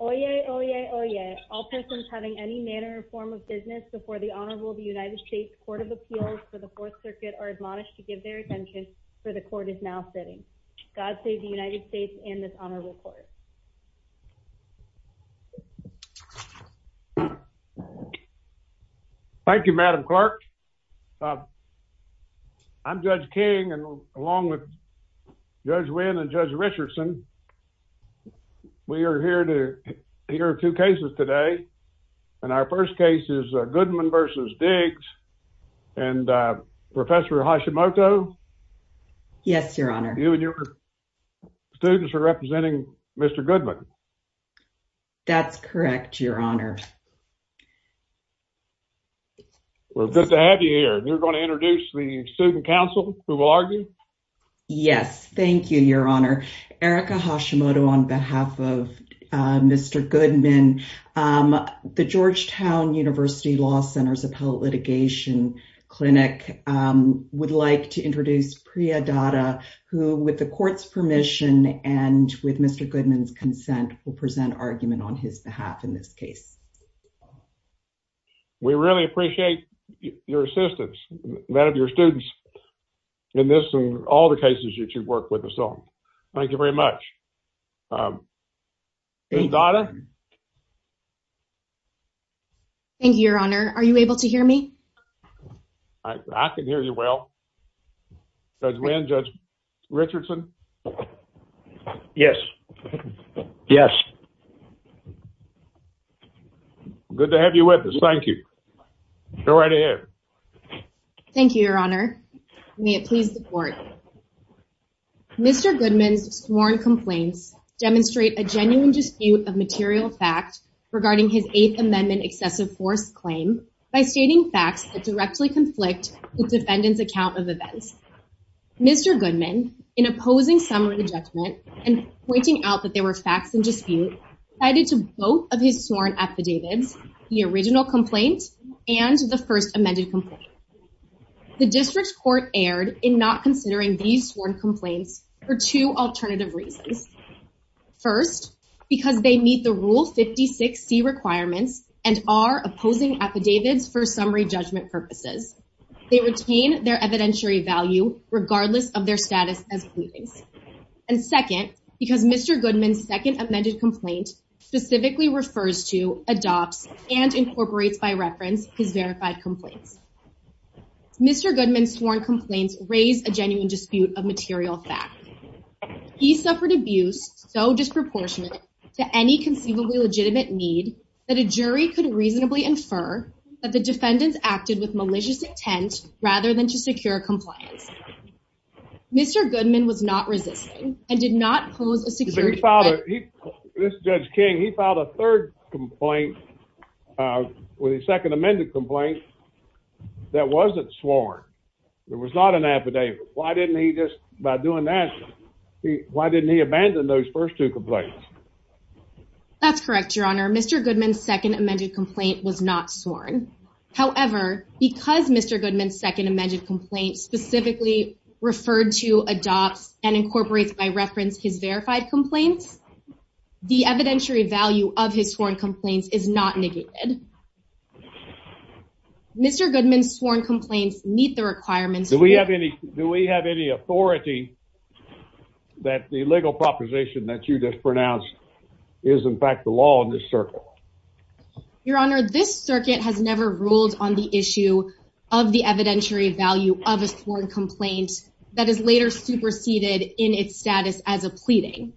Oye, oye, oye, all persons having any manner or form of business before the Honorable United States Court of Appeals for the Fourth Circuit are admonished to give their attention, for the Court is now sitting. God save the United States and this Honorable Court. Thank you, Madam Clerk. I'm Judge King and along with Judge Wynn and Judge Richardson, we are here to hear two cases today. And our first case is Goodman v. Diggs and Professor Hashimoto. Yes, Your Honor. You and your students are representing Mr. Goodman. That's correct, Your Honor. Well, good to have you here. You're going to introduce the student counsel who will argue? Yes, thank you, Your Honor. Erica Hashimoto on behalf of Mr. Goodman. The Georgetown University Law Center's Appellate Litigation Clinic would like to introduce Priya Datta, who, with the Court's permission and with Mr. Goodman's consent, will present argument on his behalf in this case. We really appreciate your assistance, that of your students in this and all the cases that you've worked with us on. Thank you very much. Priya Datta? Thank you, Your Honor. Are you able to hear me? I can hear you well. Judge Wynn, Judge Richardson? Yes. Yes. Good to have you with us. Thank you. Go right ahead. Thank you, Your Honor. May it please the Court. Mr. Goodman's sworn complaints demonstrate a genuine dispute of material fact regarding his Eighth Amendment excessive force claim by stating facts that directly conflict the defendant's account of events. Mr. Goodman, in opposing some of the judgment and pointing out that there were facts in dispute, cited to both of his sworn affidavits the original complaint and the first amended complaint. The District Court erred in not considering these sworn complaints for two alternative reasons. First, because they meet the Rule 56C requirements and are opposing affidavits for summary judgment purposes. They retain their evidentiary value regardless of their status as pleadings. And second, because Mr. Goodman's second amended complaint specifically refers to, adopts, and incorporates by reference his verified complaints. Mr. Goodman's sworn complaints raise a genuine dispute of material fact. He suffered abuse so disproportionate to any conceivably legitimate need that a jury could reasonably infer that the defendants acted with malicious intent rather than to secure compliance. Mr. Goodman was not resisting and did not pose a security This Judge King, he filed a third complaint with his second amended complaint that wasn't sworn. There was not an affidavit. Why didn't he just, by doing that, why didn't he abandon those first two complaints? That's correct, Your Honor. Mr. Goodman's second amended complaint was not sworn. However, because Mr. Goodman's second amended complaint specifically referred to, adopts, and incorporates by reference his verified complaints, the evidentiary value of his sworn complaints is not negated. Mr. Goodman's sworn complaints meet the requirements. Do we have any, do we have any authority that the legal proposition that you just pronounced is in fact the law in this circuit? Your Honor, this circuit has never ruled on the issue of the evidentiary value of a sworn complaint that is later superseded in its status as a pleading.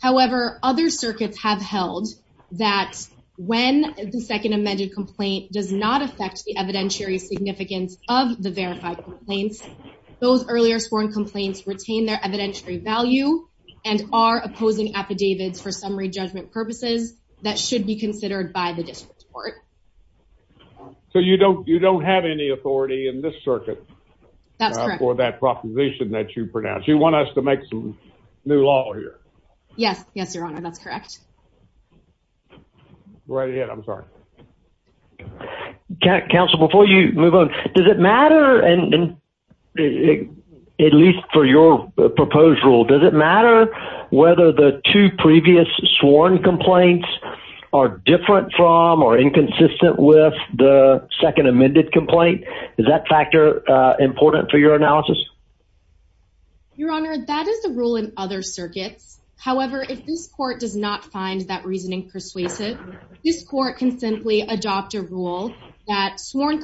However, other circuits have held that when the second amended complaint does not affect the evidentiary significance of the verified complaints, those earlier sworn complaints retain their evidentiary value and are opposing affidavits for summary judgment purposes that should be considered by the district court. So you don't, you don't have any authority in this circuit for that proposition that you pronounce. You want us to make some new law here? Yes, yes, Your Honor. That's correct. Right ahead, I'm sorry. Counsel, before you move on, does it matter, and at least for your proposed rule, does it matter whether the two previous sworn complaints are different from or inconsistent with the second amended complaint? Is that factor important for your analysis? Your Honor, that is the rule in other circuits. However, if this court does not find that reasoning persuasive, this court can simply adopt a rule that sworn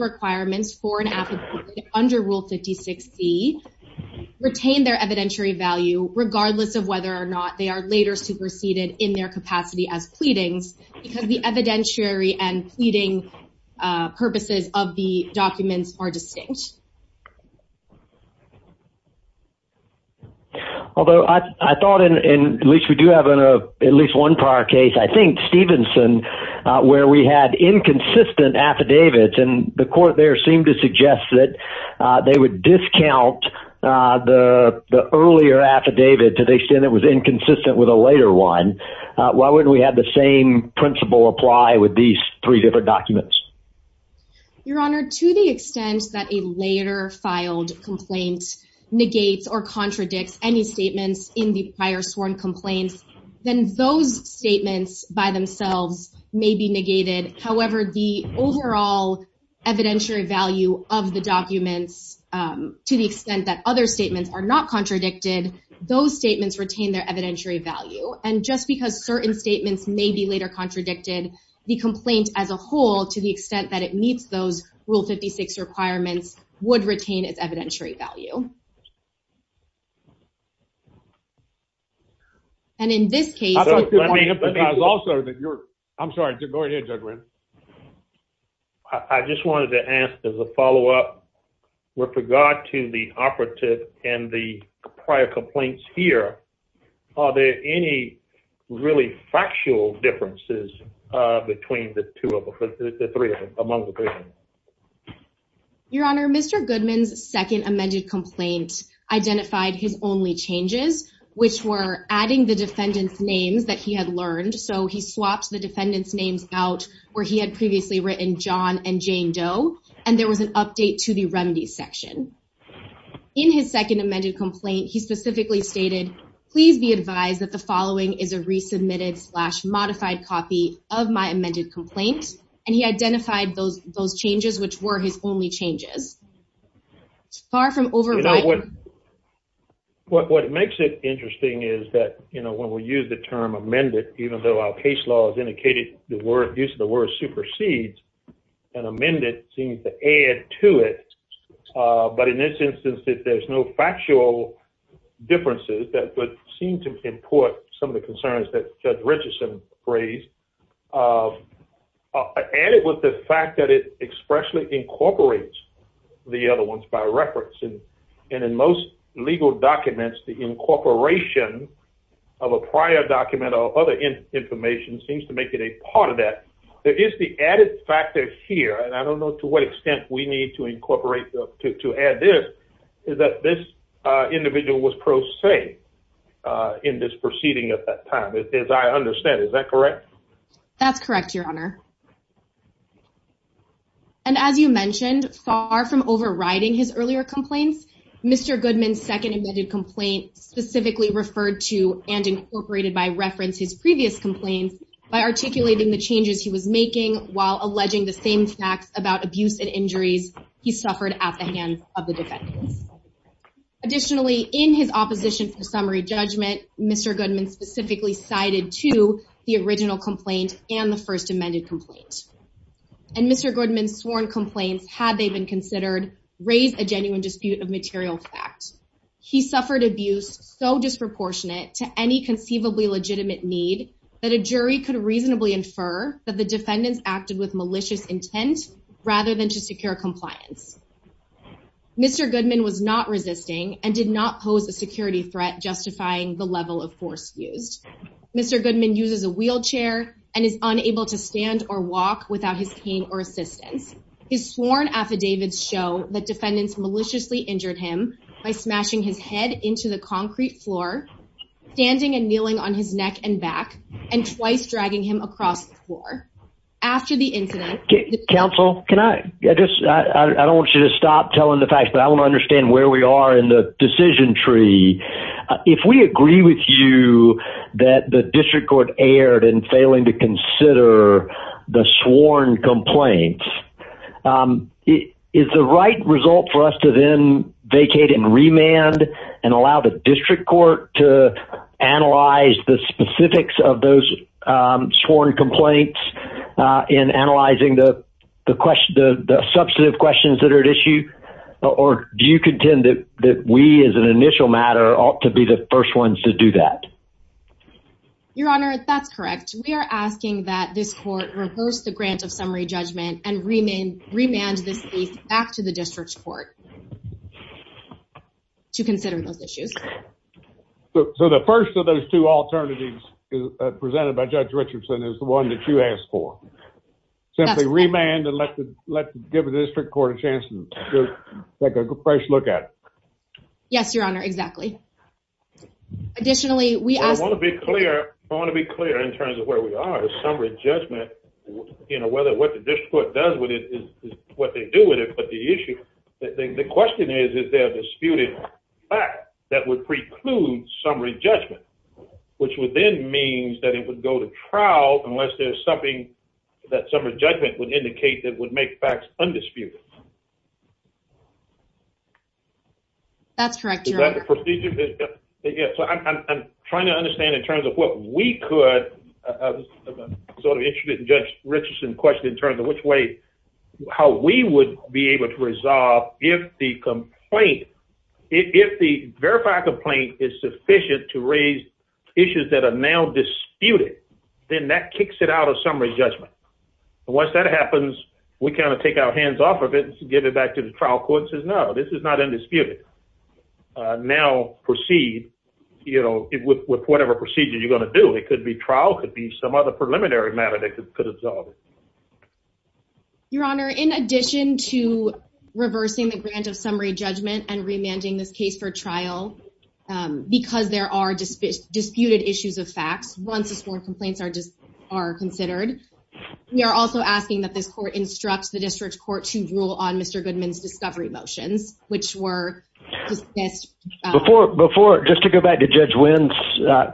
requirements for an affidavit under Rule 56C retain their evidentiary value, regardless of whether or not they are later superseded in their capacity as pleadings, because the evidentiary and pleading purposes of the documents are distinct. Although I thought, and at least we do have at least one prior case, I think Stevenson, where we had inconsistent affidavits and the court there seemed to suggest that they would discount the earlier affidavit to the extent it was inconsistent with a later one. Why wouldn't we have the same principle apply with these three different documents? Your Honor, to the extent that a later filed complaint negates or contradicts any sworn complaints, then those statements by themselves may be negated. However, the overall evidentiary value of the documents, to the extent that other statements are not contradicted, those statements retain their evidentiary value. And just because certain statements may be later contradicted, the complaint as a whole, to the extent that it meets those Rule 56 requirements, would retain its evidentiary value. And in this case... I'm sorry, go ahead Judge Wren. I just wanted to ask as a follow-up with regard to the operative and the prior complaints here, are there any really factual differences between the three of them? Your Honor, Mr. Goodman's second amended complaint identified his only changes, which were adding the defendant's names that he had learned. So he swapped the defendant's names out where he had previously written John and Jane Doe, and there was an update to the remedies section. In his second amended complaint, he specifically stated, please be advised that the following is a resubmitted slash modified copy of my amended complaint. And he identified those changes, which were his only changes. Far from overriding... What makes it interesting is that when we use the term amended, even though our case law has indicated the use of the word supersedes, an amended seems to add to it. But in this instance, if there's no factual differences that would seem to import some of the concerns that Judge Richardson raised, added with the fact that it expressly incorporates the other ones by reference. And in most legal documents, the incorporation of a prior document or other information seems to make it a part of that. There is the added factor here, and I don't know to what extent we need to incorporate to add this, is that this individual was prosaic in this proceeding at that time, as I understand. Is that correct? That's correct, Your Honor. And as you mentioned, far from overriding his earlier complaints, Mr. Goodman's second amended complaint specifically referred to and incorporated by reference his the same facts about abuse and injuries he suffered at the hands of the defendants. Additionally, in his opposition for summary judgment, Mr. Goodman specifically cited to the original complaint and the first amended complaint. And Mr. Goodman's sworn complaints, had they been considered, raised a genuine dispute of material fact. He suffered abuse so disproportionate to any conceivably legitimate need that a jury could reasonably infer that the intent rather than to secure compliance. Mr. Goodman was not resisting and did not pose a security threat justifying the level of force used. Mr. Goodman uses a wheelchair and is unable to stand or walk without his cane or assistance. His sworn affidavits show that defendants maliciously injured him by smashing his head into the concrete floor, standing and kneeling on his neck and back, and twice dragging him across the floor. After the incident. Counsel, can I just, I don't want you to stop telling the facts but I want to understand where we are in the decision tree. If we agree with you that the district court aired and failing to consider the sworn complaints. It is the right result for us to then vacate and remand and allow the district court to analyze the specifics of those sworn complaints in analyzing the substantive questions that are at issue, or do you contend that we as an initial matter ought to be the first ones to do that. Your Honor, that's correct. We are asking that this court reverse the grant of summary judgment and remand this case back to the district court to consider those issues. So the first of those two alternatives presented by Judge Richardson is the one that you asked for. Simply remand and let the, let the district court take a fresh look at it. Yes, Your Honor. Exactly. Additionally, I want to be clear. I want to be clear in terms of where we are. The summary judgment, you know, whether what the district court does with it is what they do with it, but the issue, the question is, is there a disputed fact that would preclude summary judgment, which would then mean that it would go to trial unless there's something that summary judgment would indicate that would make facts undisputed. That's correct, Your Honor. Is that the procedure? Yes. So I'm trying to understand in terms of what we could, I'm sort of interested in Judge Richardson's question in terms of which way, how we would be able to resolve if the complaint, if the verified complaint is sufficient to raise issues that are now disputed, then that kicks it out of summary judgment. Once that happens, we kind of take our hands off of it and give it back to the trial court and say, no, this is not a procedure you're going to do. It could be trial, could be some other preliminary matter that could resolve it. Your Honor, in addition to reversing the grant of summary judgment and remanding this case for trial because there are disputed issues of facts once the sworn complaints are considered, we are also asking that this court instructs the district court to rule on Mr. Go back to Judge Wynn's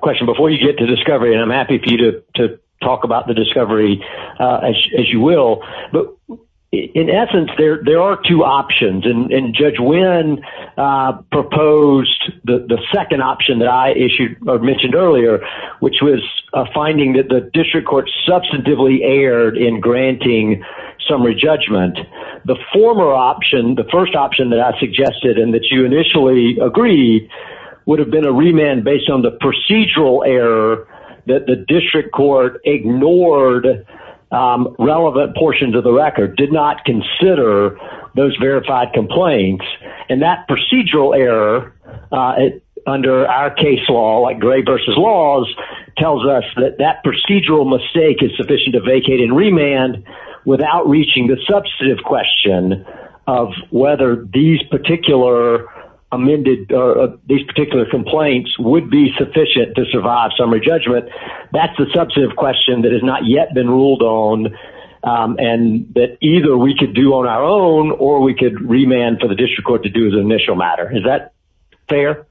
question before you get to discovery, and I'm happy for you to talk about the discovery as you will. But in essence, there are two options, and Judge Wynn proposed the second option that I issued or mentioned earlier, which was a finding that the district court substantively erred in granting summary judgment. The former option, the first option that I suggested and that you initially agreed would have been a remand based on the procedural error that the district court ignored relevant portions of the record, did not consider those verified complaints, and that procedural error under our case law, like Gray v. Laws, tells us that that procedural mistake is sufficient to vacate and remand without reaching the substantive question of whether these particular amended or these particular complaints would be sufficient to survive summary judgment. That's the substantive question that has not yet been ruled on, and that either we could do on our own or we could remand for the district court to do as an initial matter. Is that fair?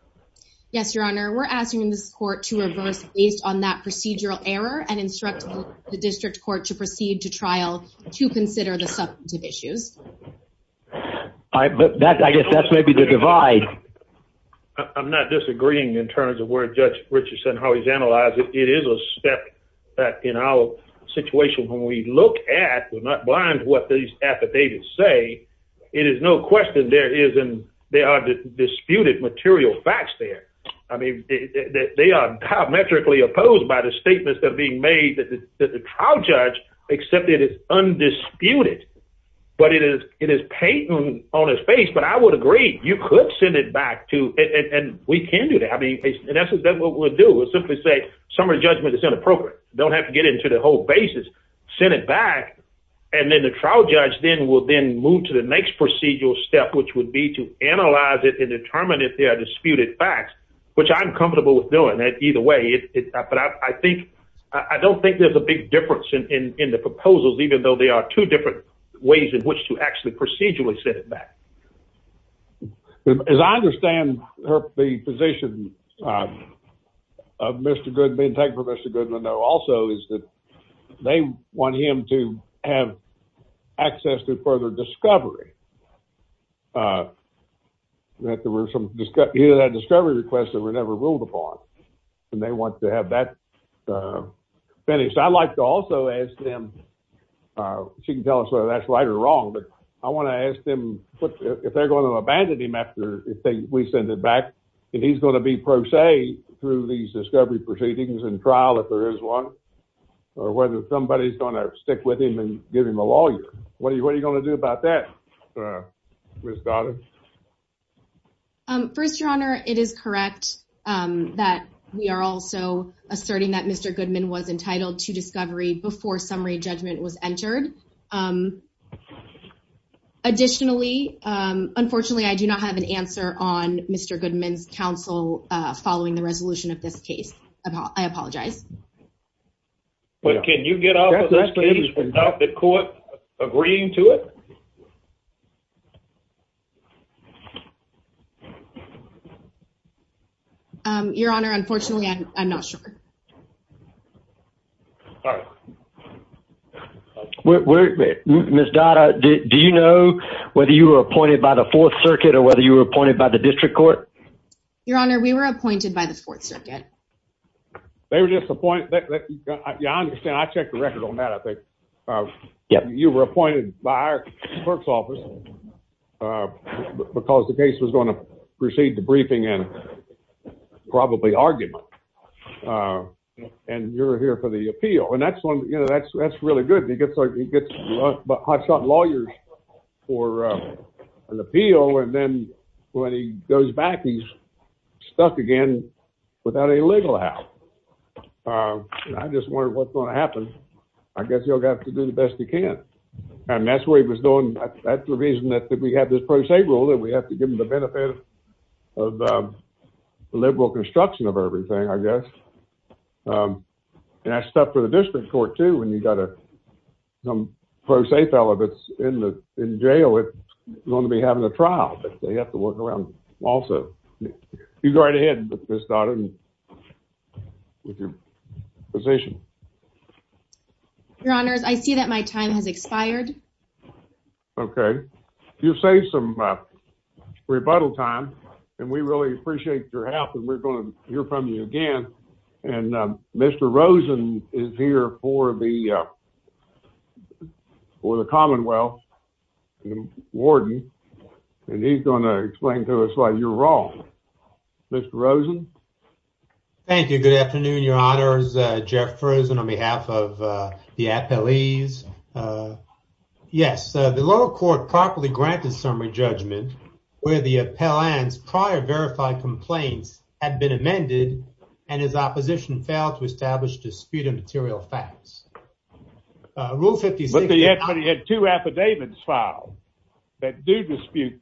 Yes, Your Honor. We're asking this court to reverse based on that procedural error and instruct the district court to proceed to trial to consider the substantive issues. All right, but I guess that's maybe the divide. I'm not disagreeing in terms of where Judge Richardson, how he's analyzed it. It is a step that in our situation when we look at, we're not blind to what these affidavits say, it is no question there are disputed material facts there. I mean, they are diametrically opposed by the statements that are being made that the trial judge accepted is undisputed, but it is patent on his face, but I would agree you could send it back to, and we can do that. I mean, in essence, that's what we'll do is simply say summary judgment is inappropriate. Don't have to get into the whole basis. Send it back, and then the trial judge then will then move to the next procedural step, which would be to analyze it and determine if there are disputed facts, which I'm comfortable with doing that either way, but I think, I don't think there's a big difference in the proposals, even though they are two different ways in which to actually procedurally send it back. As I understand the position of Mr. Goodman, thank you for Mr. Goodman though, also is that they want him to have access to further discovery, that there were some, either that discovery request that were never ruled upon, and they want to have that finished. I'd like to also ask them, she can tell us whether that's right or wrong, but I want to ask them if they're going to abandon him after we send it back, and he's going to be pro se through these discovery proceedings and trial if there is one, or whether somebody's going to stick with him and give him a lawyer. What are you going to do about that? First, your honor, it is correct that we are also asserting that Mr. Goodman was entitled to discovery before summary judgment was entered. Additionally, unfortunately, I do not have an answer on Mr. Goodman's counsel following the resolution of this case. I apologize. But can you get off of this case without the court agreeing to it? Your honor, unfortunately, I'm not sure. All right. Ms. Dotta, do you know whether you were appointed by the Fourth Circuit or whether you were appointed by the district court? Your honor, we were appointed by the Fourth Circuit. They were just appointed. Yeah, I understand. I checked the record on that, I think. You were appointed by our clerk's office because the case was going to proceed to briefing and probably argument. And you're here for the appeal. And that's really good because he gets hotshot lawyers for an appeal. And then when he goes back, he's stuck again without a legal house. I just wonder what's going to happen. I guess you'll have to do the best you can. And that's what he was doing. That's the reason that we have this pro se rule, that we have to give them the benefit of the liberal construction of everything, I guess. And that's tough for the district court, too, when you've got a some pro se fella that's in jail that's going to be having a trial. But they have to work around also. You go right ahead, Ms. Dotta, with your position. Your honors, I see that my time has expired. Okay. You've saved some rebuttal time, and we really appreciate your help. And we're going to hear from you again. And Mr. Rosen is here for the Commonwealth Warden, and he's going to explain to us why you're wrong. Mr. Rosen? Thank you. Good afternoon, your honors. Jeff Rosen on behalf of the appellees. Yes, the lower court properly granted summary judgment where the appellant's prior verified complaints had been amended, and his opposition failed to establish dispute of material facts. Rule 56- But he had two affidavits filed that do dispute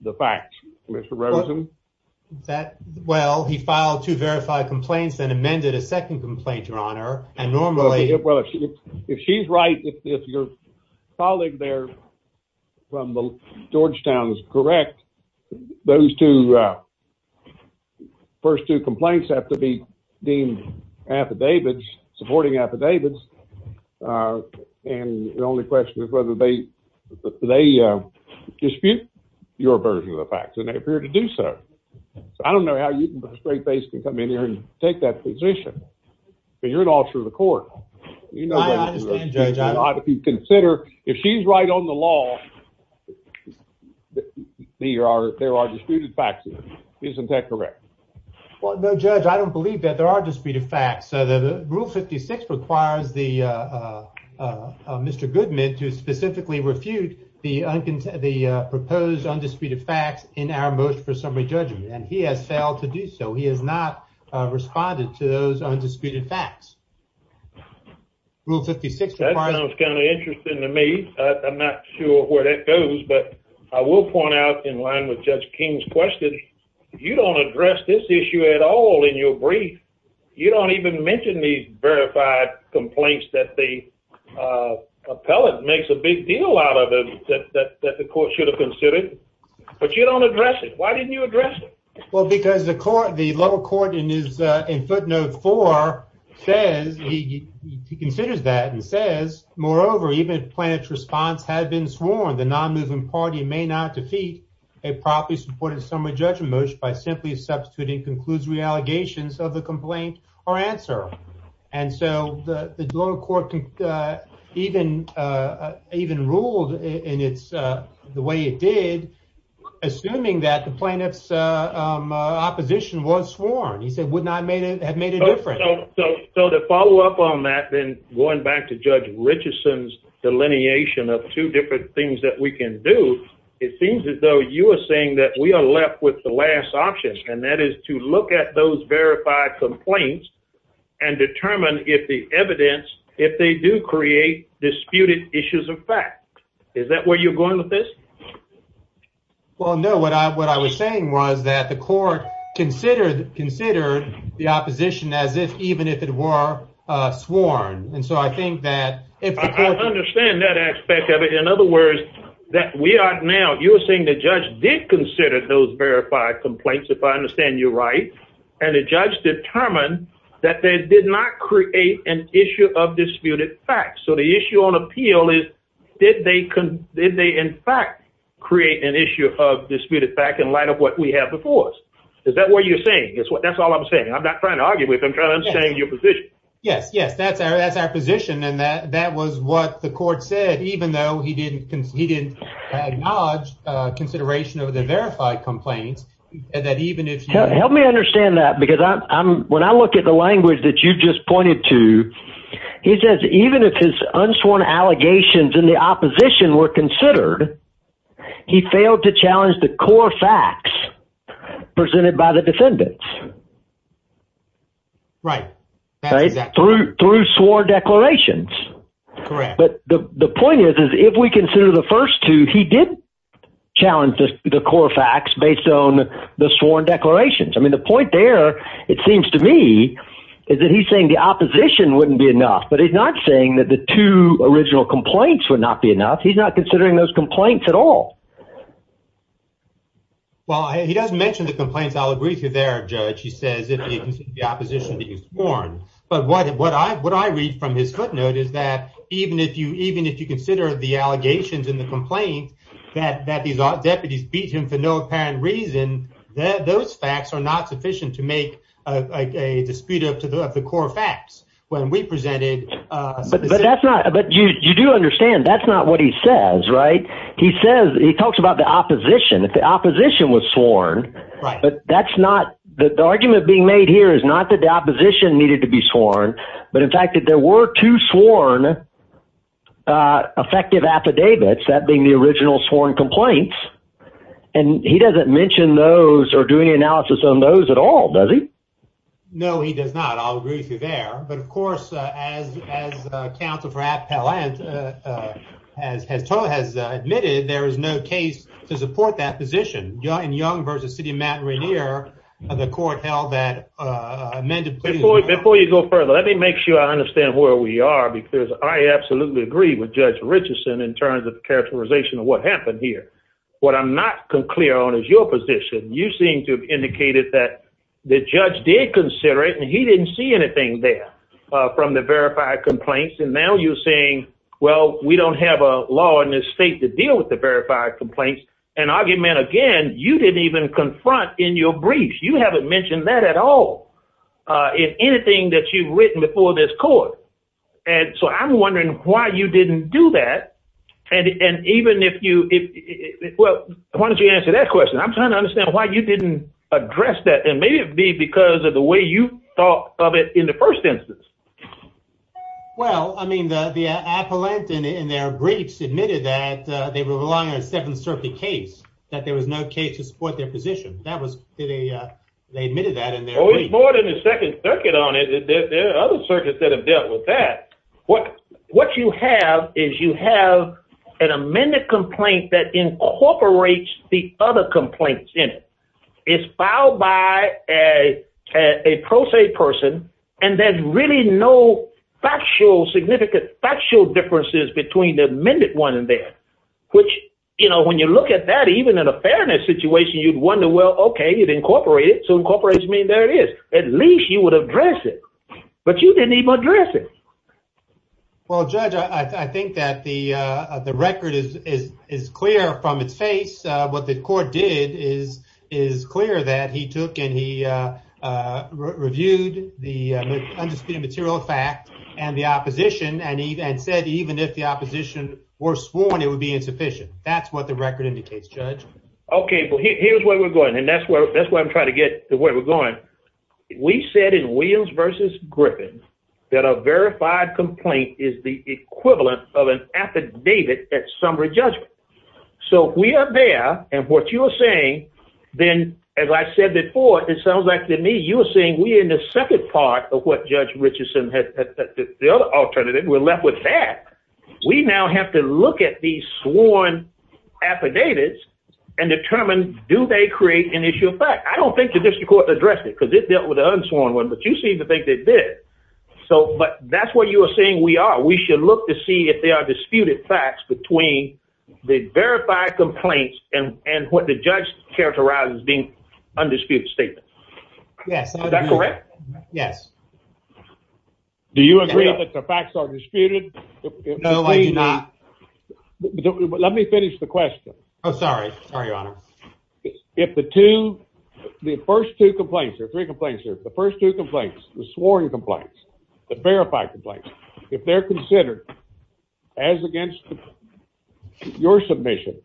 the facts, Mr. Rosen. Well, he filed two verified complaints, then amended a second complaint, your honor, and normally- If she's right, if your colleague there from Georgetown is correct, those first two complaints have to be deemed affidavits, supporting affidavits. And the only question is whether they dispute your version of the facts, and they appear to do so. So I don't know how you can put a straight face to come in here and take that position, but you're an officer of the court. I understand, judge. If you consider, if she's right on the law, there are disputed facts. Isn't that correct? Well, no, judge, I don't believe that there are disputed facts. Rule 56 requires Mr. Goodman to specifically refute the proposed undisputed facts in our motion for summary judgment, and he has failed to do so. He has not responded to those undisputed facts. Rule 56- That sounds kind of interesting to me. I'm not sure where that goes, but I will point out in line with Judge King's question, if you don't address this issue at all in your brief, you don't even mention these verified complaints that the appellate makes a big deal out of it that the court should have Well, because the lower court in footnote four says, he considers that and says, moreover, even if plaintiff's response had been sworn, the non-moving party may not defeat a properly supported summary judgment motion by simply substituting conclusory allegations of the complaint or answer. And so the lower court even ruled in the way it did, assuming that the plaintiff's opposition was sworn. He said, would not have made a difference. So to follow up on that, then going back to Judge Richardson's delineation of two different things that we can do, it seems as though you are saying that we are left with the last option, and that is to look at those verified complaints and determine if the evidence, if they do create disputed issues of fact. Is that where you're going with this? Well, no, what I was saying was that the court considered the opposition as if, even if it were sworn. And so I think that- I understand that aspect of it. In other words, that we are now, you were saying the judge did consider those verified complaints, if I understand you right. And the judge determined that they did not create an issue of disputed facts. So the issue on appeal is, did they in fact create an issue of disputed fact in light of what we have before us? Is that what you're saying? That's all I'm saying. I'm not trying to argue with you, I'm trying to understand your position. Yes, yes, that's our position. And that was what the court said, even though he didn't acknowledge consideration of the verified complaints. And that even if- Help me understand that, because when I look at the language that you've just pointed to, he says, even if his unsworn allegations in the opposition were considered, he failed to challenge the core facts presented by the defendants. Right. That's exactly it. Through sworn declarations. Correct. But the point is, is if we consider the first two, he did challenge the core facts based on the sworn declarations. I mean, the point there, it seems to me, is that he's saying the opposition wouldn't be enough. But he's not saying that the two original complaints would not be enough. He's not considering those complaints at all. Well, he doesn't mention the complaints, I'll agree with you there, judge, he says, if you consider the opposition to be sworn. But what I read from his footnote is that, even if you consider the allegations in the complaint, that these deputies beat him for no apparent reason, that those facts are not sufficient to make a dispute of the core facts when we presented. But that's not, but you do understand that's not what he says, right? He says, he talks about the opposition, if the opposition was sworn. Right. But that's not, the argument being made here is not that the opposition needed to be sworn. But in fact, if there were two sworn effective affidavits, that being the original sworn complaints, and he doesn't mention those or do any analysis on those at all, does he? No, he does not. I'll agree with you there. But of course, as counsel for Appellant has totally has admitted, there is no case to support that position. In Young versus City of Mount Rainier, the court held that. Before you go further, let me make sure I understand where we are, because I absolutely agree with Judge Richardson in terms of characterization of what happened here. What I'm not clear on is your position. You seem to have indicated that the judge did consider it and he didn't see anything there from the verified complaints. And now you're saying, well, we don't have a law in this state to deal with the verified complaints and argument again, you didn't even confront in your briefs. You haven't mentioned that at all in anything that you've written before this court. And so I'm wondering why you didn't do that. And even if you, well, why don't you answer that question? I'm trying to understand why you didn't address that. And maybe it'd be because of the way you thought of it in the first instance. Well, I mean, the Appellant in their briefs admitted that they were relying on a Seventh Circuit case, that there was no case to support their position. That was, they admitted that in their briefs. There's more than the Second Circuit on it. There are other circuits that have dealt with that. What you have is you have an amended complaint that incorporates the other complaints in it. It's filed by a pro se person. And there's really no factual, significant, factual differences between the amended one and that. Which, you know, when you look at that, even in a fairness situation, you'd wonder, well, okay, it incorporated. So incorporates mean there it is. At least you would address it. But you didn't even address it. Well, Judge, I think that the record is clear from its face. What the court did is clear that he took and he reviewed the undisputed material fact and the opposition and said even if the opposition were sworn, it would be insufficient. That's what the record indicates, Judge. Okay. Well, here's where we're going. And that's where I'm trying to get to where we're going. We said in Williams versus Griffin that a verified complaint is the equivalent of an affidavit at summary judgment. So if we are there, and what you are saying, then as I said before, it sounds like to me you are saying we are in the second part of what Judge Richardson, the other alternative, we're left with that. We now have to look at these sworn affidavits and determine do they create an issue of fact. I don't think the district court addressed it because it dealt with the unsworn one, but you seem to think they did. So but that's what you are saying we are. We should look to see if there are disputed facts between the verified complaints and what the judge characterized as being undisputed statements. Yes. Is that correct? Yes. Do you agree that the facts are disputed? No, I do not. But let me finish the question. Oh, sorry. Sorry, Your Honor. If the two, the first two complaints, or three complaints, the first two complaints, the sworn complaints, the verified complaints, if they're considered as against your submission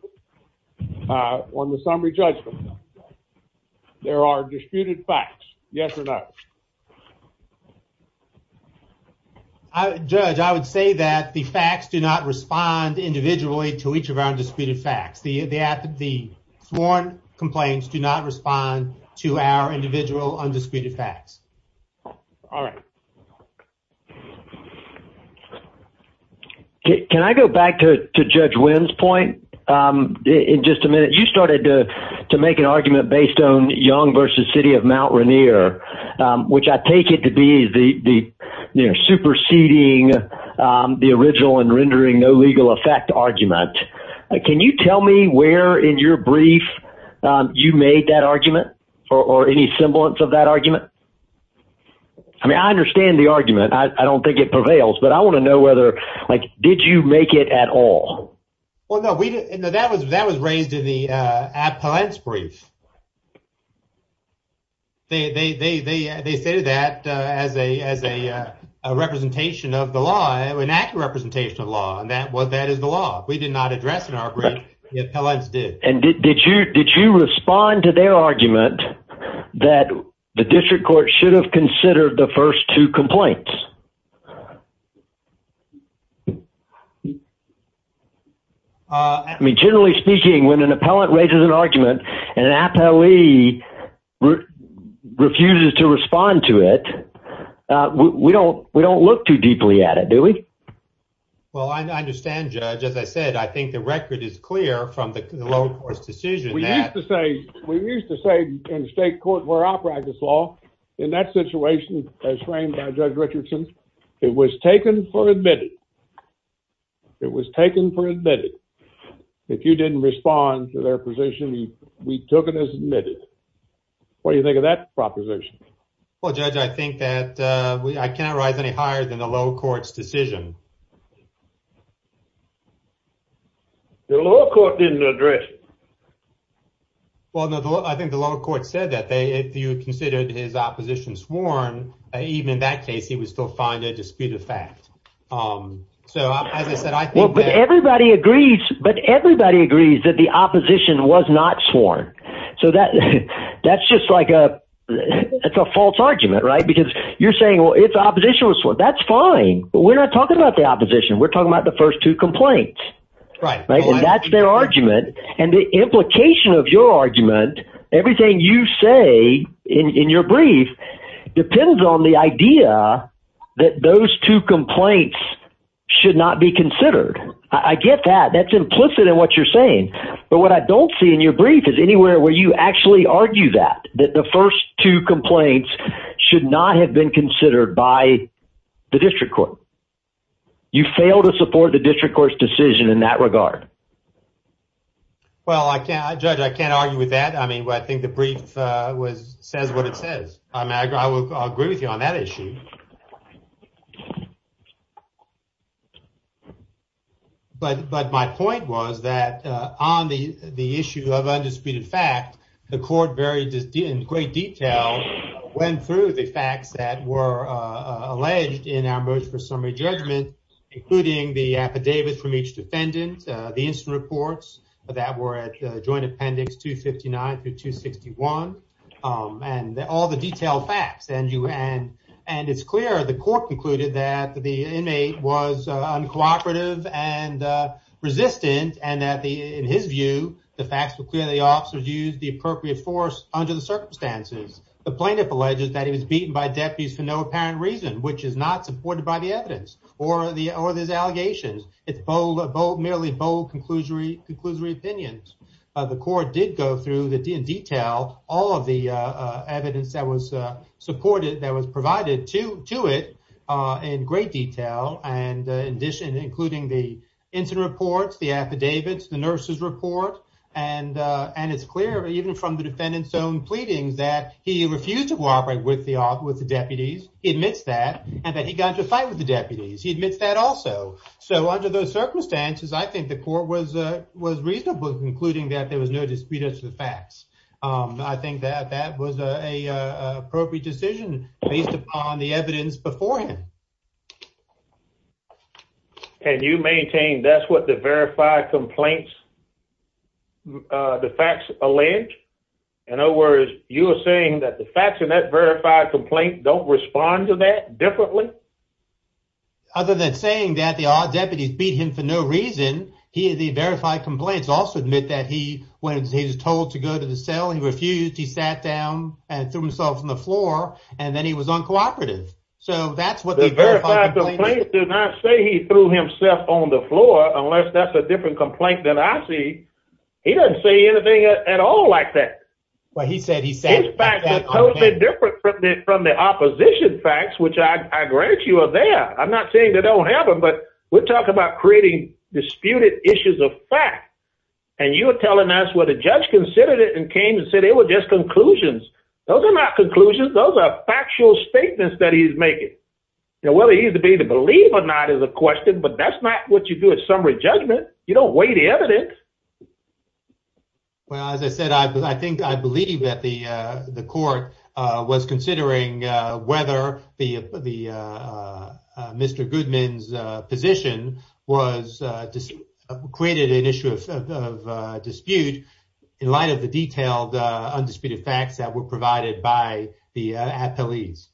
on the summary judgment, there are disputed facts, yes or no? I, Judge, I would say that the facts do not respond individually to each of our undisputed facts. The sworn complaints do not respond to our individual undisputed facts. All right. Can I go back to Judge Wynn's point in just a minute? You started to make an argument based on Mount Rainier, which I take it to be the superseding the original and rendering no legal effect argument. Can you tell me where in your brief you made that argument, or any semblance of that argument? I mean, I understand the argument. I don't think it prevails. But I want to know whether, like, did you make it at all? Well, no, we didn't. That was raised in the They say that as a representation of the law, an accurate representation of the law, and that is the law. We did not address in our brief. The appellants did. And did you respond to their argument that the district court should have considered the first two complaints? I mean, generally speaking, when an appellant raises an argument and an appellee refuses to respond to it, we don't look too deeply at it, do we? Well, I understand, Judge. As I said, I think the record is clear from the lower court's decision. We used to say in state court where I practice law, in that situation as framed by Judge Richardson, it was taken for admitted. It was taken for admitted. If you didn't respond to their position, we took it as admitted. What do you think of that proposition? Well, Judge, I think that I cannot rise any higher than the lower court's decision. The lower court didn't address it. Well, no, I think the lower court said that they, if you considered his opposition sworn, even in that case, he would still find a disputed fact. So, as I said, I think that everybody agrees, but everybody agrees that the opposition was not sworn. So, that's just like a false argument, right? Because you're saying, well, if the opposition was sworn, that's fine, but we're not talking about the opposition. We're talking about the first two complaints, right? And that's their argument. And the implication of your argument, everything you say in your brief depends on the idea that those two complaints should not be considered. I get that. That's implicit in what you're saying. But what I don't see in your brief is anywhere where you actually argue that, that the first two complaints should not have been considered by the district court. You fail to support the district court's decision in that regard. Well, Judge, I can't argue with that. I mean, I think the brief says what it says. I mean, I will agree with you on that issue. But my point was that on the issue of undisputed fact, the court very, in great detail, went through the facts that were alleged in our motion for summary judgment, including the affidavits from each defendant, the incident reports that were at joint appendix 259 through 261, and all the detailed facts. And it's clear the court concluded that the inmate was uncooperative and resistant, and that in his view, the facts were clear that the officer used the appropriate force under the circumstances. The plaintiff alleges that he was beaten by deputies for no apparent reason, which is not supported by the evidence or his allegations. It's merely bold conclusory opinions. The court did go through in detail all of the evidence that was supported, that was provided to it in great detail, including the incident reports, the affidavits, the nurse's report. And it's clear, even from the defendant's own pleadings, that he refused to cooperate with the deputies. He admits that. And that he got into a fight with the deputies. He admits that also. So under those circumstances, I think the court was reasonable in concluding that there was no dispute as to the facts. I think that that was an appropriate decision based upon the evidence beforehand. And you maintain that's what the verified complaints, the facts allege? In other words, you are saying that the facts in that verified complaint don't respond to that differently? Other than saying that the odd deputies beat him for no reason, the verified complaints also admit that when he was told to go to the cell, he refused, he sat down and threw himself on the floor, and then he was uncooperative. So that's what the verified complaints do not say. He threw himself on the floor, unless that's a different complaint than I see. He doesn't say anything at all like that. Well, he said, he said, His facts are totally different from the opposition facts, which I grant you are there. I'm not saying they don't have them, but we're talking about creating disputed issues of fact. And you were telling us where the judge considered it and came and said it was just conclusions. Those are not conclusions. Those are factual statements that he's making. Now, whether he's to be to believe or not is a question, but that's not what you do at summary judgment. You don't weigh the evidence. Well, as I said, I think I believe that the court was considering whether the Mr. Goodman's position was created an issue of dispute in light of the detailed undisputed facts that were provided by the appellees.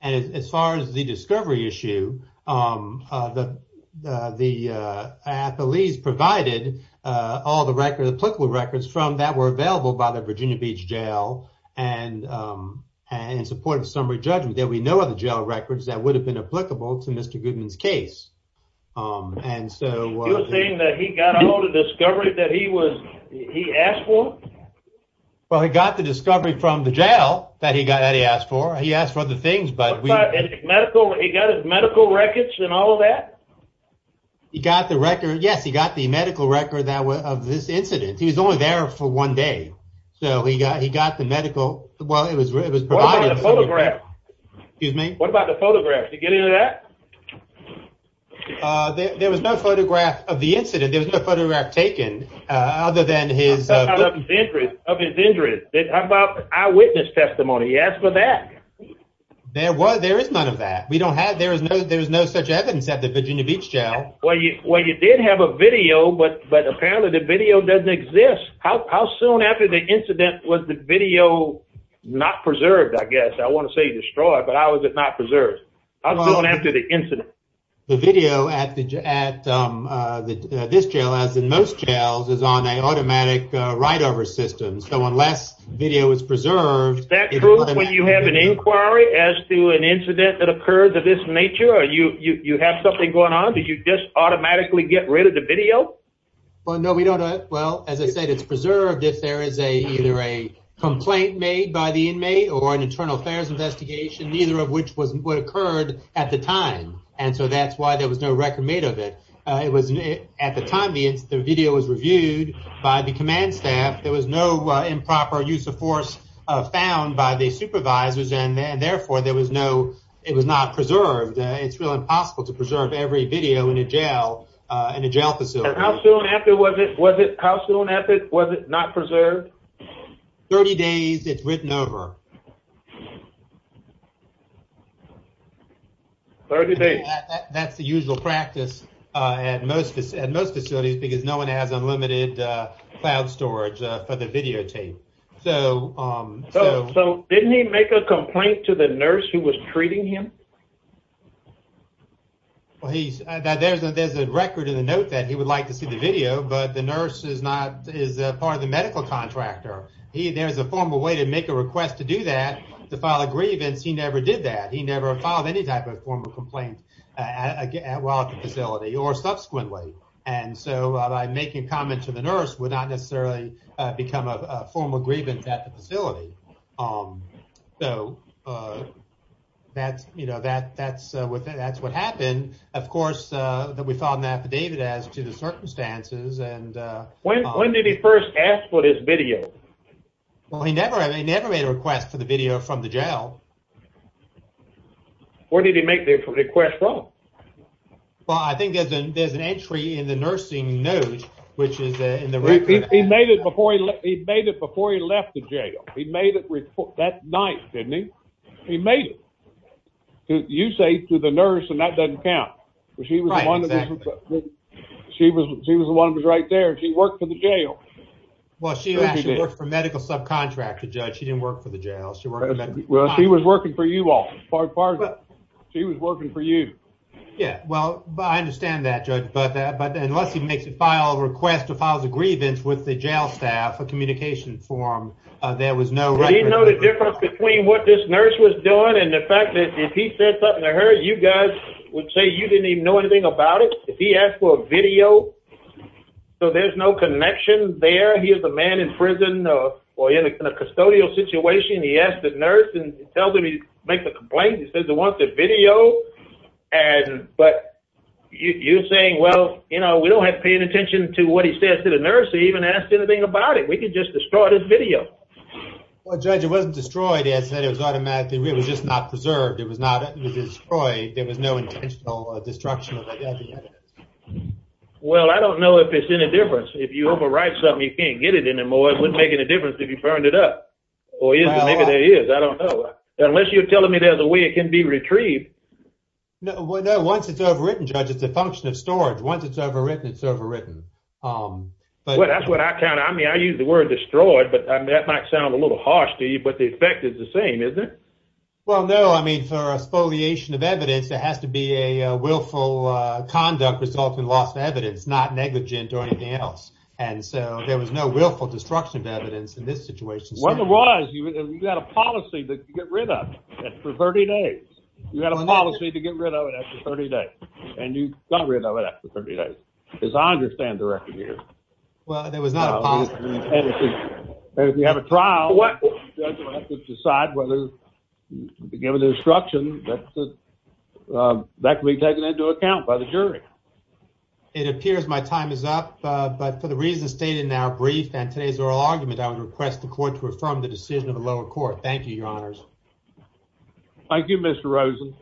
And as far as the discovery issue, the appellees provided all the record applicable records from that were available by the Virginia Beach Jail and in support of summary judgment that we know of the jail records that would have been applicable to Mr. Goodman's case. And so you're saying that he got all the discovery that he was, he asked for? Well, he got the discovery from the jail that he got that he asked for. He asked for the things, but medical, he got his medical records and all of that. He got the record. Yes. He got the medical record that was of this incident. He was only there for one day. So he got, he got the medical, well, it was, it was provided. Excuse me. What about the photograph? Did he get into that? Uh, there was no photograph of the incident. There was no photograph taken, uh, other than his, of his injuries. How about eyewitness testimony? He asked for that. There was, there is none of that. We don't have, there was no, there was no such evidence at the Virginia Beach Jail. Well, you, well, you did have a video, but, but apparently the video doesn't exist. How, how soon after the incident was the video not preserved? I guess I want to destroy it, but how is it not preserved? How soon after the incident? The video at the, at, um, uh, the, uh, this jail, as in most jails is on a automatic, uh, write over system. So unless video is preserved. Is that true when you have an inquiry as to an incident that occurred to this nature or you, you, you have something going on? Did you just automatically get rid of the video? Well, no, we don't. Uh, well, as I said, it's preserved. If there is a, either a complaint made by the inmate or an internal affairs investigation, neither of which was what occurred at the time. And so that's why there was no record made of it. Uh, it was at the time the, the video was reviewed by the command staff. There was no improper use of force, uh, found by the supervisors and therefore there was no, it was not preserved. Uh, it's real impossible to preserve every video in a jail, uh, in a jail facility. How soon after was it, was it, how soon after was it not preserved? 30 days. It's written over. 30 days. That's the usual practice, uh, at most, at most facilities because no one has unlimited, uh, cloud storage, uh, for the videotape. So, um, so, so didn't he make a complaint to the nurse who was treating him? Well, he's, there's a, there's a record in the note that he would like to see the video, but the nurse is not, is a part of the medical contractor. He, there's a formal way to make a request to do that, to file a grievance. He never did that. He never filed any type of form of complaint while at the facility or subsequently. And so by making a comment to the nurse would not necessarily become a formal grievance at the facility. Um, so, uh, that's, you know, that, that's what, that's what happened. Of course, uh, that we filed an affidavit as to the circumstances. And, uh, when, when did he first ask for this video? Well, he never, I mean, never made a request for the video from the jail. Where did he make the request from? Well, I think there's an, there's an entry in the nursing note, which is in the record. He made it before he left, he made it before he left the jail. He made it before, that's nice, didn't he? He made it. You say to the nurse and that doesn't count. She was one of the, she was, she was the one who was right there. She worked for the jail. Well, she actually worked for medical subcontractor judge. She didn't work for the jail. She worked, she was working for you all. She was working for you. Yeah. Well, I understand that judge, but that, but unless he makes a file request to file the grievance with the jail staff, a communication form, uh, there was no, no difference between what this nurse was doing. And the fact that if he said something to her, you guys would say you didn't even know anything about it. If he asked for a video, so there's no connection there. He is a man in prison or in a custodial situation. He asked the nurse and tells him he makes a complaint. He says he wants a video. And, but you saying, well, you know, we don't have to pay any attention to what he says to the nurse. He even asked anything about it. We could just destroy this video. Well, judge, it wasn't destroyed. As I said, it was automatically, it was just not destruction. Well, I don't know if it's any difference. If you overwrite something, you can't get it anymore. It wouldn't make any difference if you burned it up or maybe there is, I don't know. Unless you're telling me there's a way it can be retrieved. No, once it's overwritten, judge, it's a function of storage. Once it's overwritten, it's overwritten. Um, but that's what I kind of, I mean, I use the word destroyed, but that might sound a little harsh to you, but the effect is the same, isn't it? Well, no, I mean, for a spoliation of evidence, there has to be a, a willful, uh, conduct result in lost evidence, not negligent or anything else. And so there was no willful destruction of evidence in this situation. What it was, you had a policy that you get rid of it for 30 days. You had a policy to get rid of it after 30 days and you got rid of it after 30 days. As I understand the record here. Well, there was not a policy. And if you have a trial, judge will have to decide whether to give an instruction that, uh, that can be taken into account by the jury. It appears my time is up. Uh, but for the reasons stated in our brief and today's oral argument, I would request the court to affirm the decision of the lower court. Thank you, your honors. Thank you, Mr. Rosen.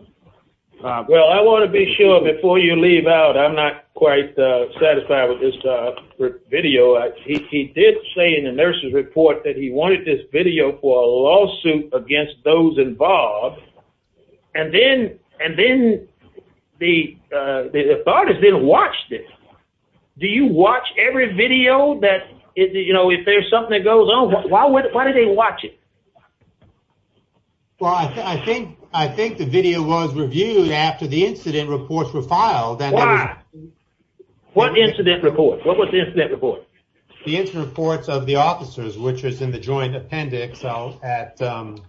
Uh, well, I want to be sure before you leave out, I'm not quite, uh, satisfied with this, uh, video. He did say in the nurse's report that he wanted this video for a lawsuit against those involved. And then, and then the, uh, the, the parties didn't watch this. Do you watch every video that is, you know, if there's something that goes on, why would, why do they watch it? Well, I think, I think the video was reviewed after the incident reports were filed. What incident report? What was the incident report? The incident reports of the at, um,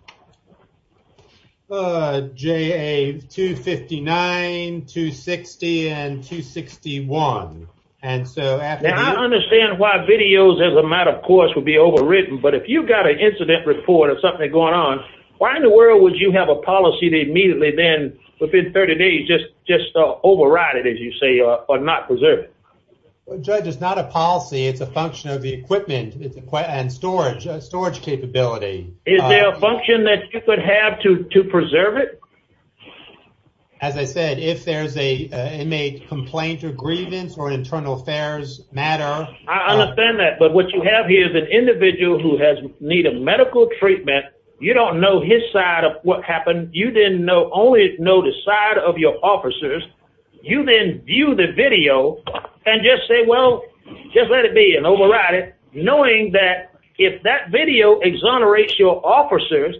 uh, JA 259, 260, and 261. And so I understand why videos as a matter of course would be overwritten, but if you've got an incident report or something going on, why in the world would you have a policy to immediately then within 30 days, just, just, uh, override it, as you say, or not preserve it. Well, judge, it's not a policy. It's a function of the equipment and storage, uh, storage capability. Is there a function that you could have to, to preserve it? As I said, if there's a, uh, inmate complaint or grievance or an internal affairs matter. I understand that, but what you have here is an individual who has needed medical treatment. You don't know his side of what happened. You didn't know, only know the side of your officers. You then view the video and just say, well, just let it be an override it. Knowing that if that video exonerates your officers,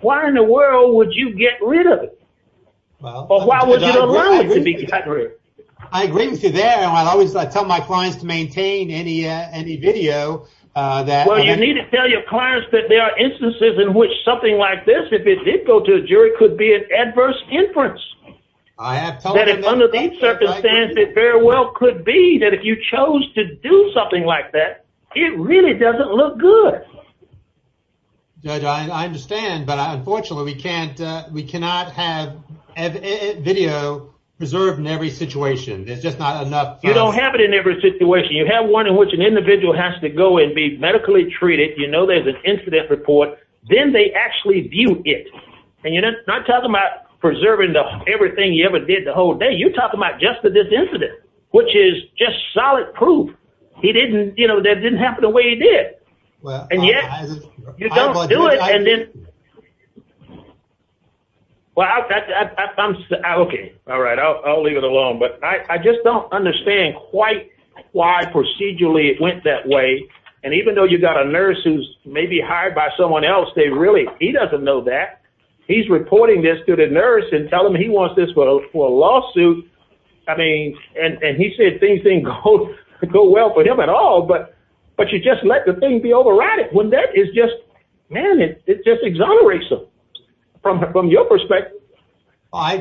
why in the world would you get rid of it? Well, I agree with you there. And I always tell my clients to maintain any, uh, any video, uh, that you need to tell your clients that there are instances in which something like this, if it did go to a jury, it could be an adverse inference. I have told them that under these circumstances, it very well could be that if you chose to do something like that, it really doesn't look good. Judge, I understand, but unfortunately we can't, we cannot have video preserved in every situation. It's just not enough. You don't have it in every situation. You have one in which an individual has to go and be medically treated. You know, there's an incident report, then they actually view it. And you're not talking about preserving everything you ever did the whole day. You're talking about just the, this incident, which is just solid proof. He didn't, you know, that didn't happen the way he did. And yet you don't do it. And then, well, I'm okay. All right. I'll, I'll leave it alone, but I just don't understand quite why procedurally it went that way. And even though you've got a nurse who's maybe hired by someone else, they really, he doesn't know that he's reporting this to the nurse and tell him he wants this for a lawsuit. I mean, and, and he said things didn't go well for him at all, but, but you just let the thing be overrided when that is just, man, it just exonerates them from, from your perspective. If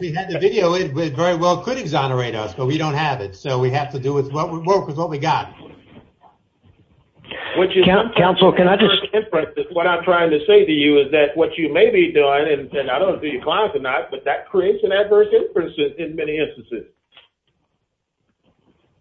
we had the video, it very well could exonerate us, but we don't have it. So we have to do with what we've got. Council, can I just, what I'm trying to say to you is that what you may be saying, I don't want to do your clients or not, but that creates an adverse inference in many instances.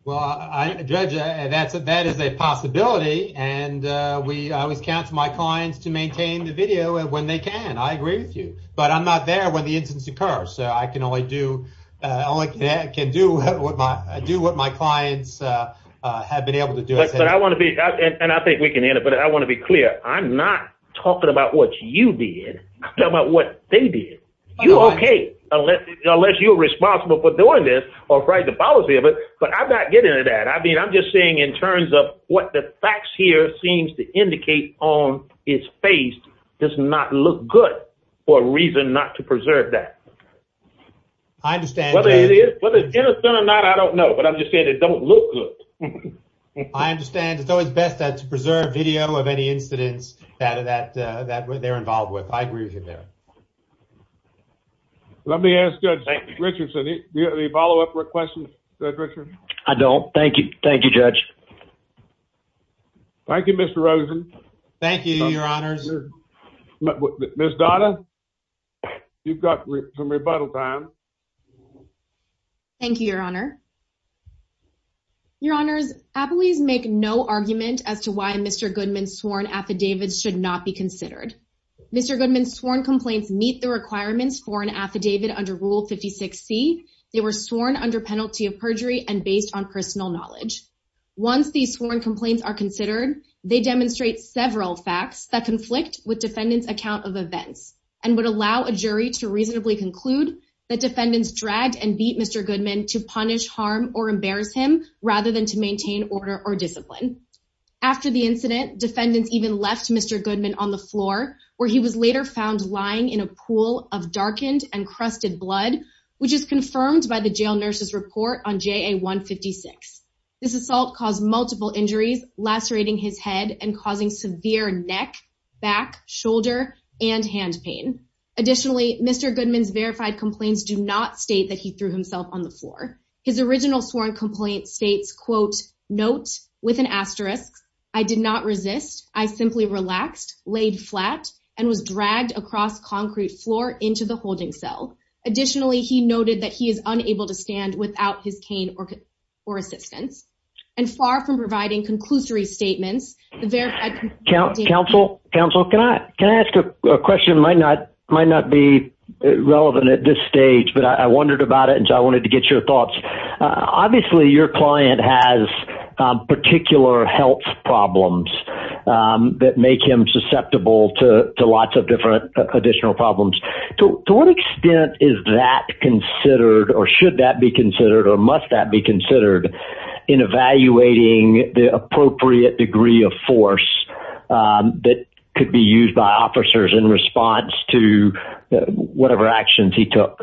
Well, I, Judge, that's a, that is a possibility. And we always counsel my clients to maintain the video when they can. I agree with you, but I'm not there when the incidents occur. So I can only do, I can do what my, do what my clients have been able to do. But I want to be, and I think we can end it, but I want to be clear. I'm not talking about what you did. I'm talking about what they did. You're okay, unless, unless you're responsible for doing this or the policy of it. But I'm not getting into that. I mean, I'm just saying in terms of what the facts here seems to indicate on its face does not look good for a reason not to preserve that. I understand. Whether it is, whether it's innocent or not, I don't know, but I'm just saying it don't look good. I understand. It's always best to preserve video of any incidents that, that, uh, that they're involved with. I agree with you there. Let me ask Judge Richardson, do you have any follow-up questions, Judge Richardson? I don't. Thank you. Thank you, Judge. Thank you, Mr. Rosen. Thank you, Your Honors. Ms. Donna, you've got some rebuttal time. Thank you, Your Honor. Your Honors, appellees make no argument as to why Mr. Goodman's sworn affidavits should not be considered. Mr. Goodman's sworn complaints meet the requirements for an affidavit under Rule 56C. They were sworn under penalty of perjury and based on personal knowledge. Once these sworn complaints are considered, they demonstrate several facts that conflict with defendant's account of events and would allow a jury to reasonably conclude that defendants dragged and beat Mr. Goodman to punish harm or embarrass him rather than to maintain order or discipline. After the incident, defendants even left Mr. Goodman on the floor, where he was later found lying in a pool of darkened and crusted blood, which is confirmed by the jail nurse's report on JA-156. This assault caused multiple injuries, lacerating his head, and causing severe neck, back, shoulder, and hand pain. Additionally, Mr. Goodman's verified complaints do not state that he threw himself on the floor. His original sworn complaint states, quote, note with an asterisk, I did not resist. I simply relaxed, laid flat, and was dragged across concrete floor into the holding cell. Additionally, he noted that he is unable to stand without his cane or assistance. And far from providing statements. Counsel, counsel, can I, can I ask a question? Might not, might not be relevant at this stage, but I wondered about it. And so I wanted to get your thoughts. Obviously your client has particular health problems that make him susceptible to lots of different additional problems. To what extent is that considered or should that be considered or must that be considered in evaluating the appropriate degree of force that could be used by officers in response to whatever actions he took?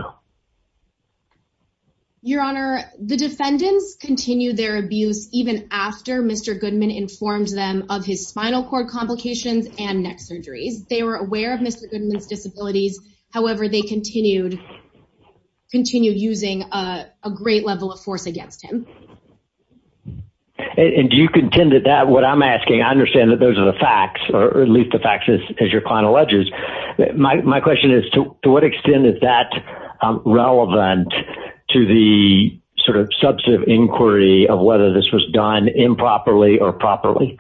Your Honor, the defendants continued their abuse even after Mr. Goodman informed them of his spinal cord complications and neck surgeries. They were aware of Mr. Goodman's disabilities. However, they continued, continued using a great level of force against him. And do you contend that that, what I'm asking, I understand that those are the facts or at least the facts as your client alleges. My question is to what extent is that relevant to the sort of substantive inquiry of whether this was done improperly or properly?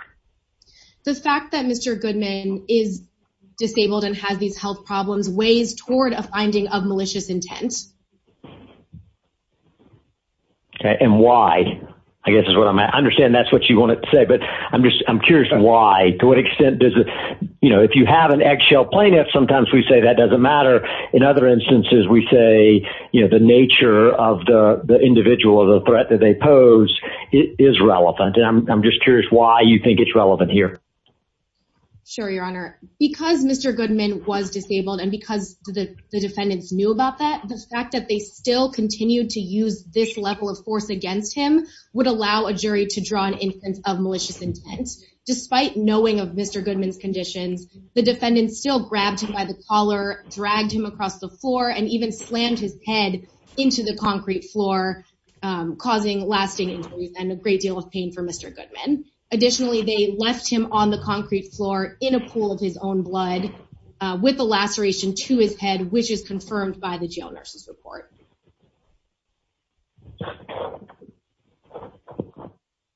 The fact that Mr. Goodman is disabled and has these health problems weighs toward a finding of malicious intent. Okay. And why, I guess is what I'm, I understand that's what you want to say, but I'm just, I'm curious why, to what extent does it, you know, if you have an eggshell plaintiff, sometimes we say that doesn't matter. In other instances, we say, you know, the nature of the individual or the threat that they pose is relevant. And I'm just curious why you think it's relevant here? Sure. Your Honor, because Mr. Goodman was disabled and because the defendants knew about that, the fact that they still continued to use this level of force against him would allow a jury to draw an instance of malicious intent. Despite knowing of Mr. Goodman's conditions, the defendants still grabbed him by the collar, dragged him across the floor, and even slammed his head into the concrete floor, causing lasting injuries and a great deal of pain for Mr. Goodman. Additionally, they left him on the concrete floor in a pool of his own blood with a laceration to his head, which is confirmed by the jail nurse's report.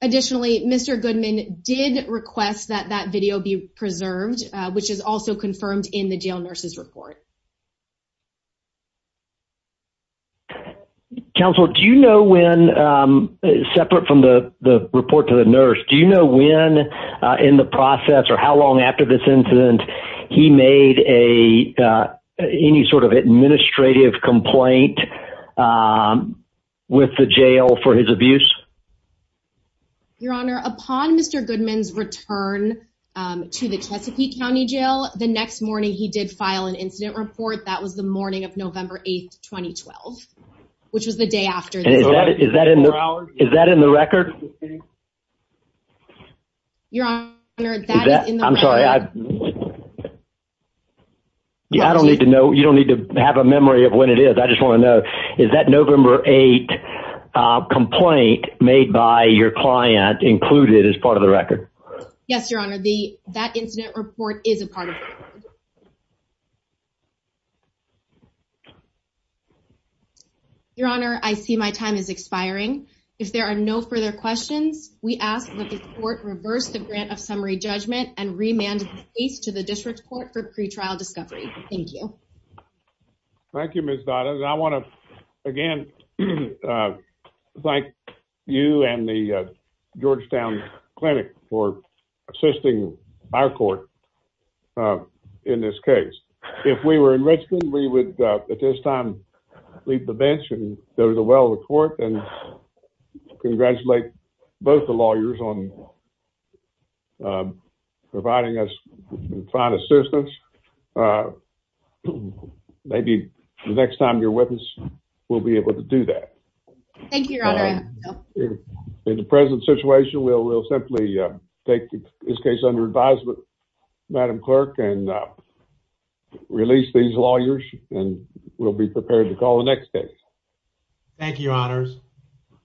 Additionally, Mr. Goodman did request that that video be preserved, which is also confirmed in the jail nurse's report. Counsel, do you know when, separate from the report to the nurse, do you know when in the process or how long after this incident he made any sort of administrative complaint with the jail for his abuse? Your Honor, upon Mr. Goodman's return to the Chesapeake County jail, the next morning he did file an incident report. That was the morning of November 8, 2012, which was the day after this. Is that in the record? Your Honor, that is in the record. I'm sorry. I don't need to know. You don't need to have a memory of when it is. I just want to know. Is that November 8 complaint made by your client included as part of the record? Yes, Your Honor. That incident report is a part of it. Your Honor, I see my time is expiring. If there are no further questions, we ask that the court reverse the grant of summary judgment and remand the case to the district court for pretrial discovery. Thank you. Thank you, Ms. Dottas. I want to again thank you and the Georgetown Clinic for assisting our court in this case. If we were in Richmond, we would at this time leave the bench and go to the well of the court and congratulate both the lawyers on providing us with fine assistance. Maybe the next time you're with us, we'll be able to do that. Thank you, Your Honor. In the present situation, we'll simply take this case under advisement, Madam Clerk, and release these lawyers, and we'll be prepared to call the next case. Thank you, Your Honors.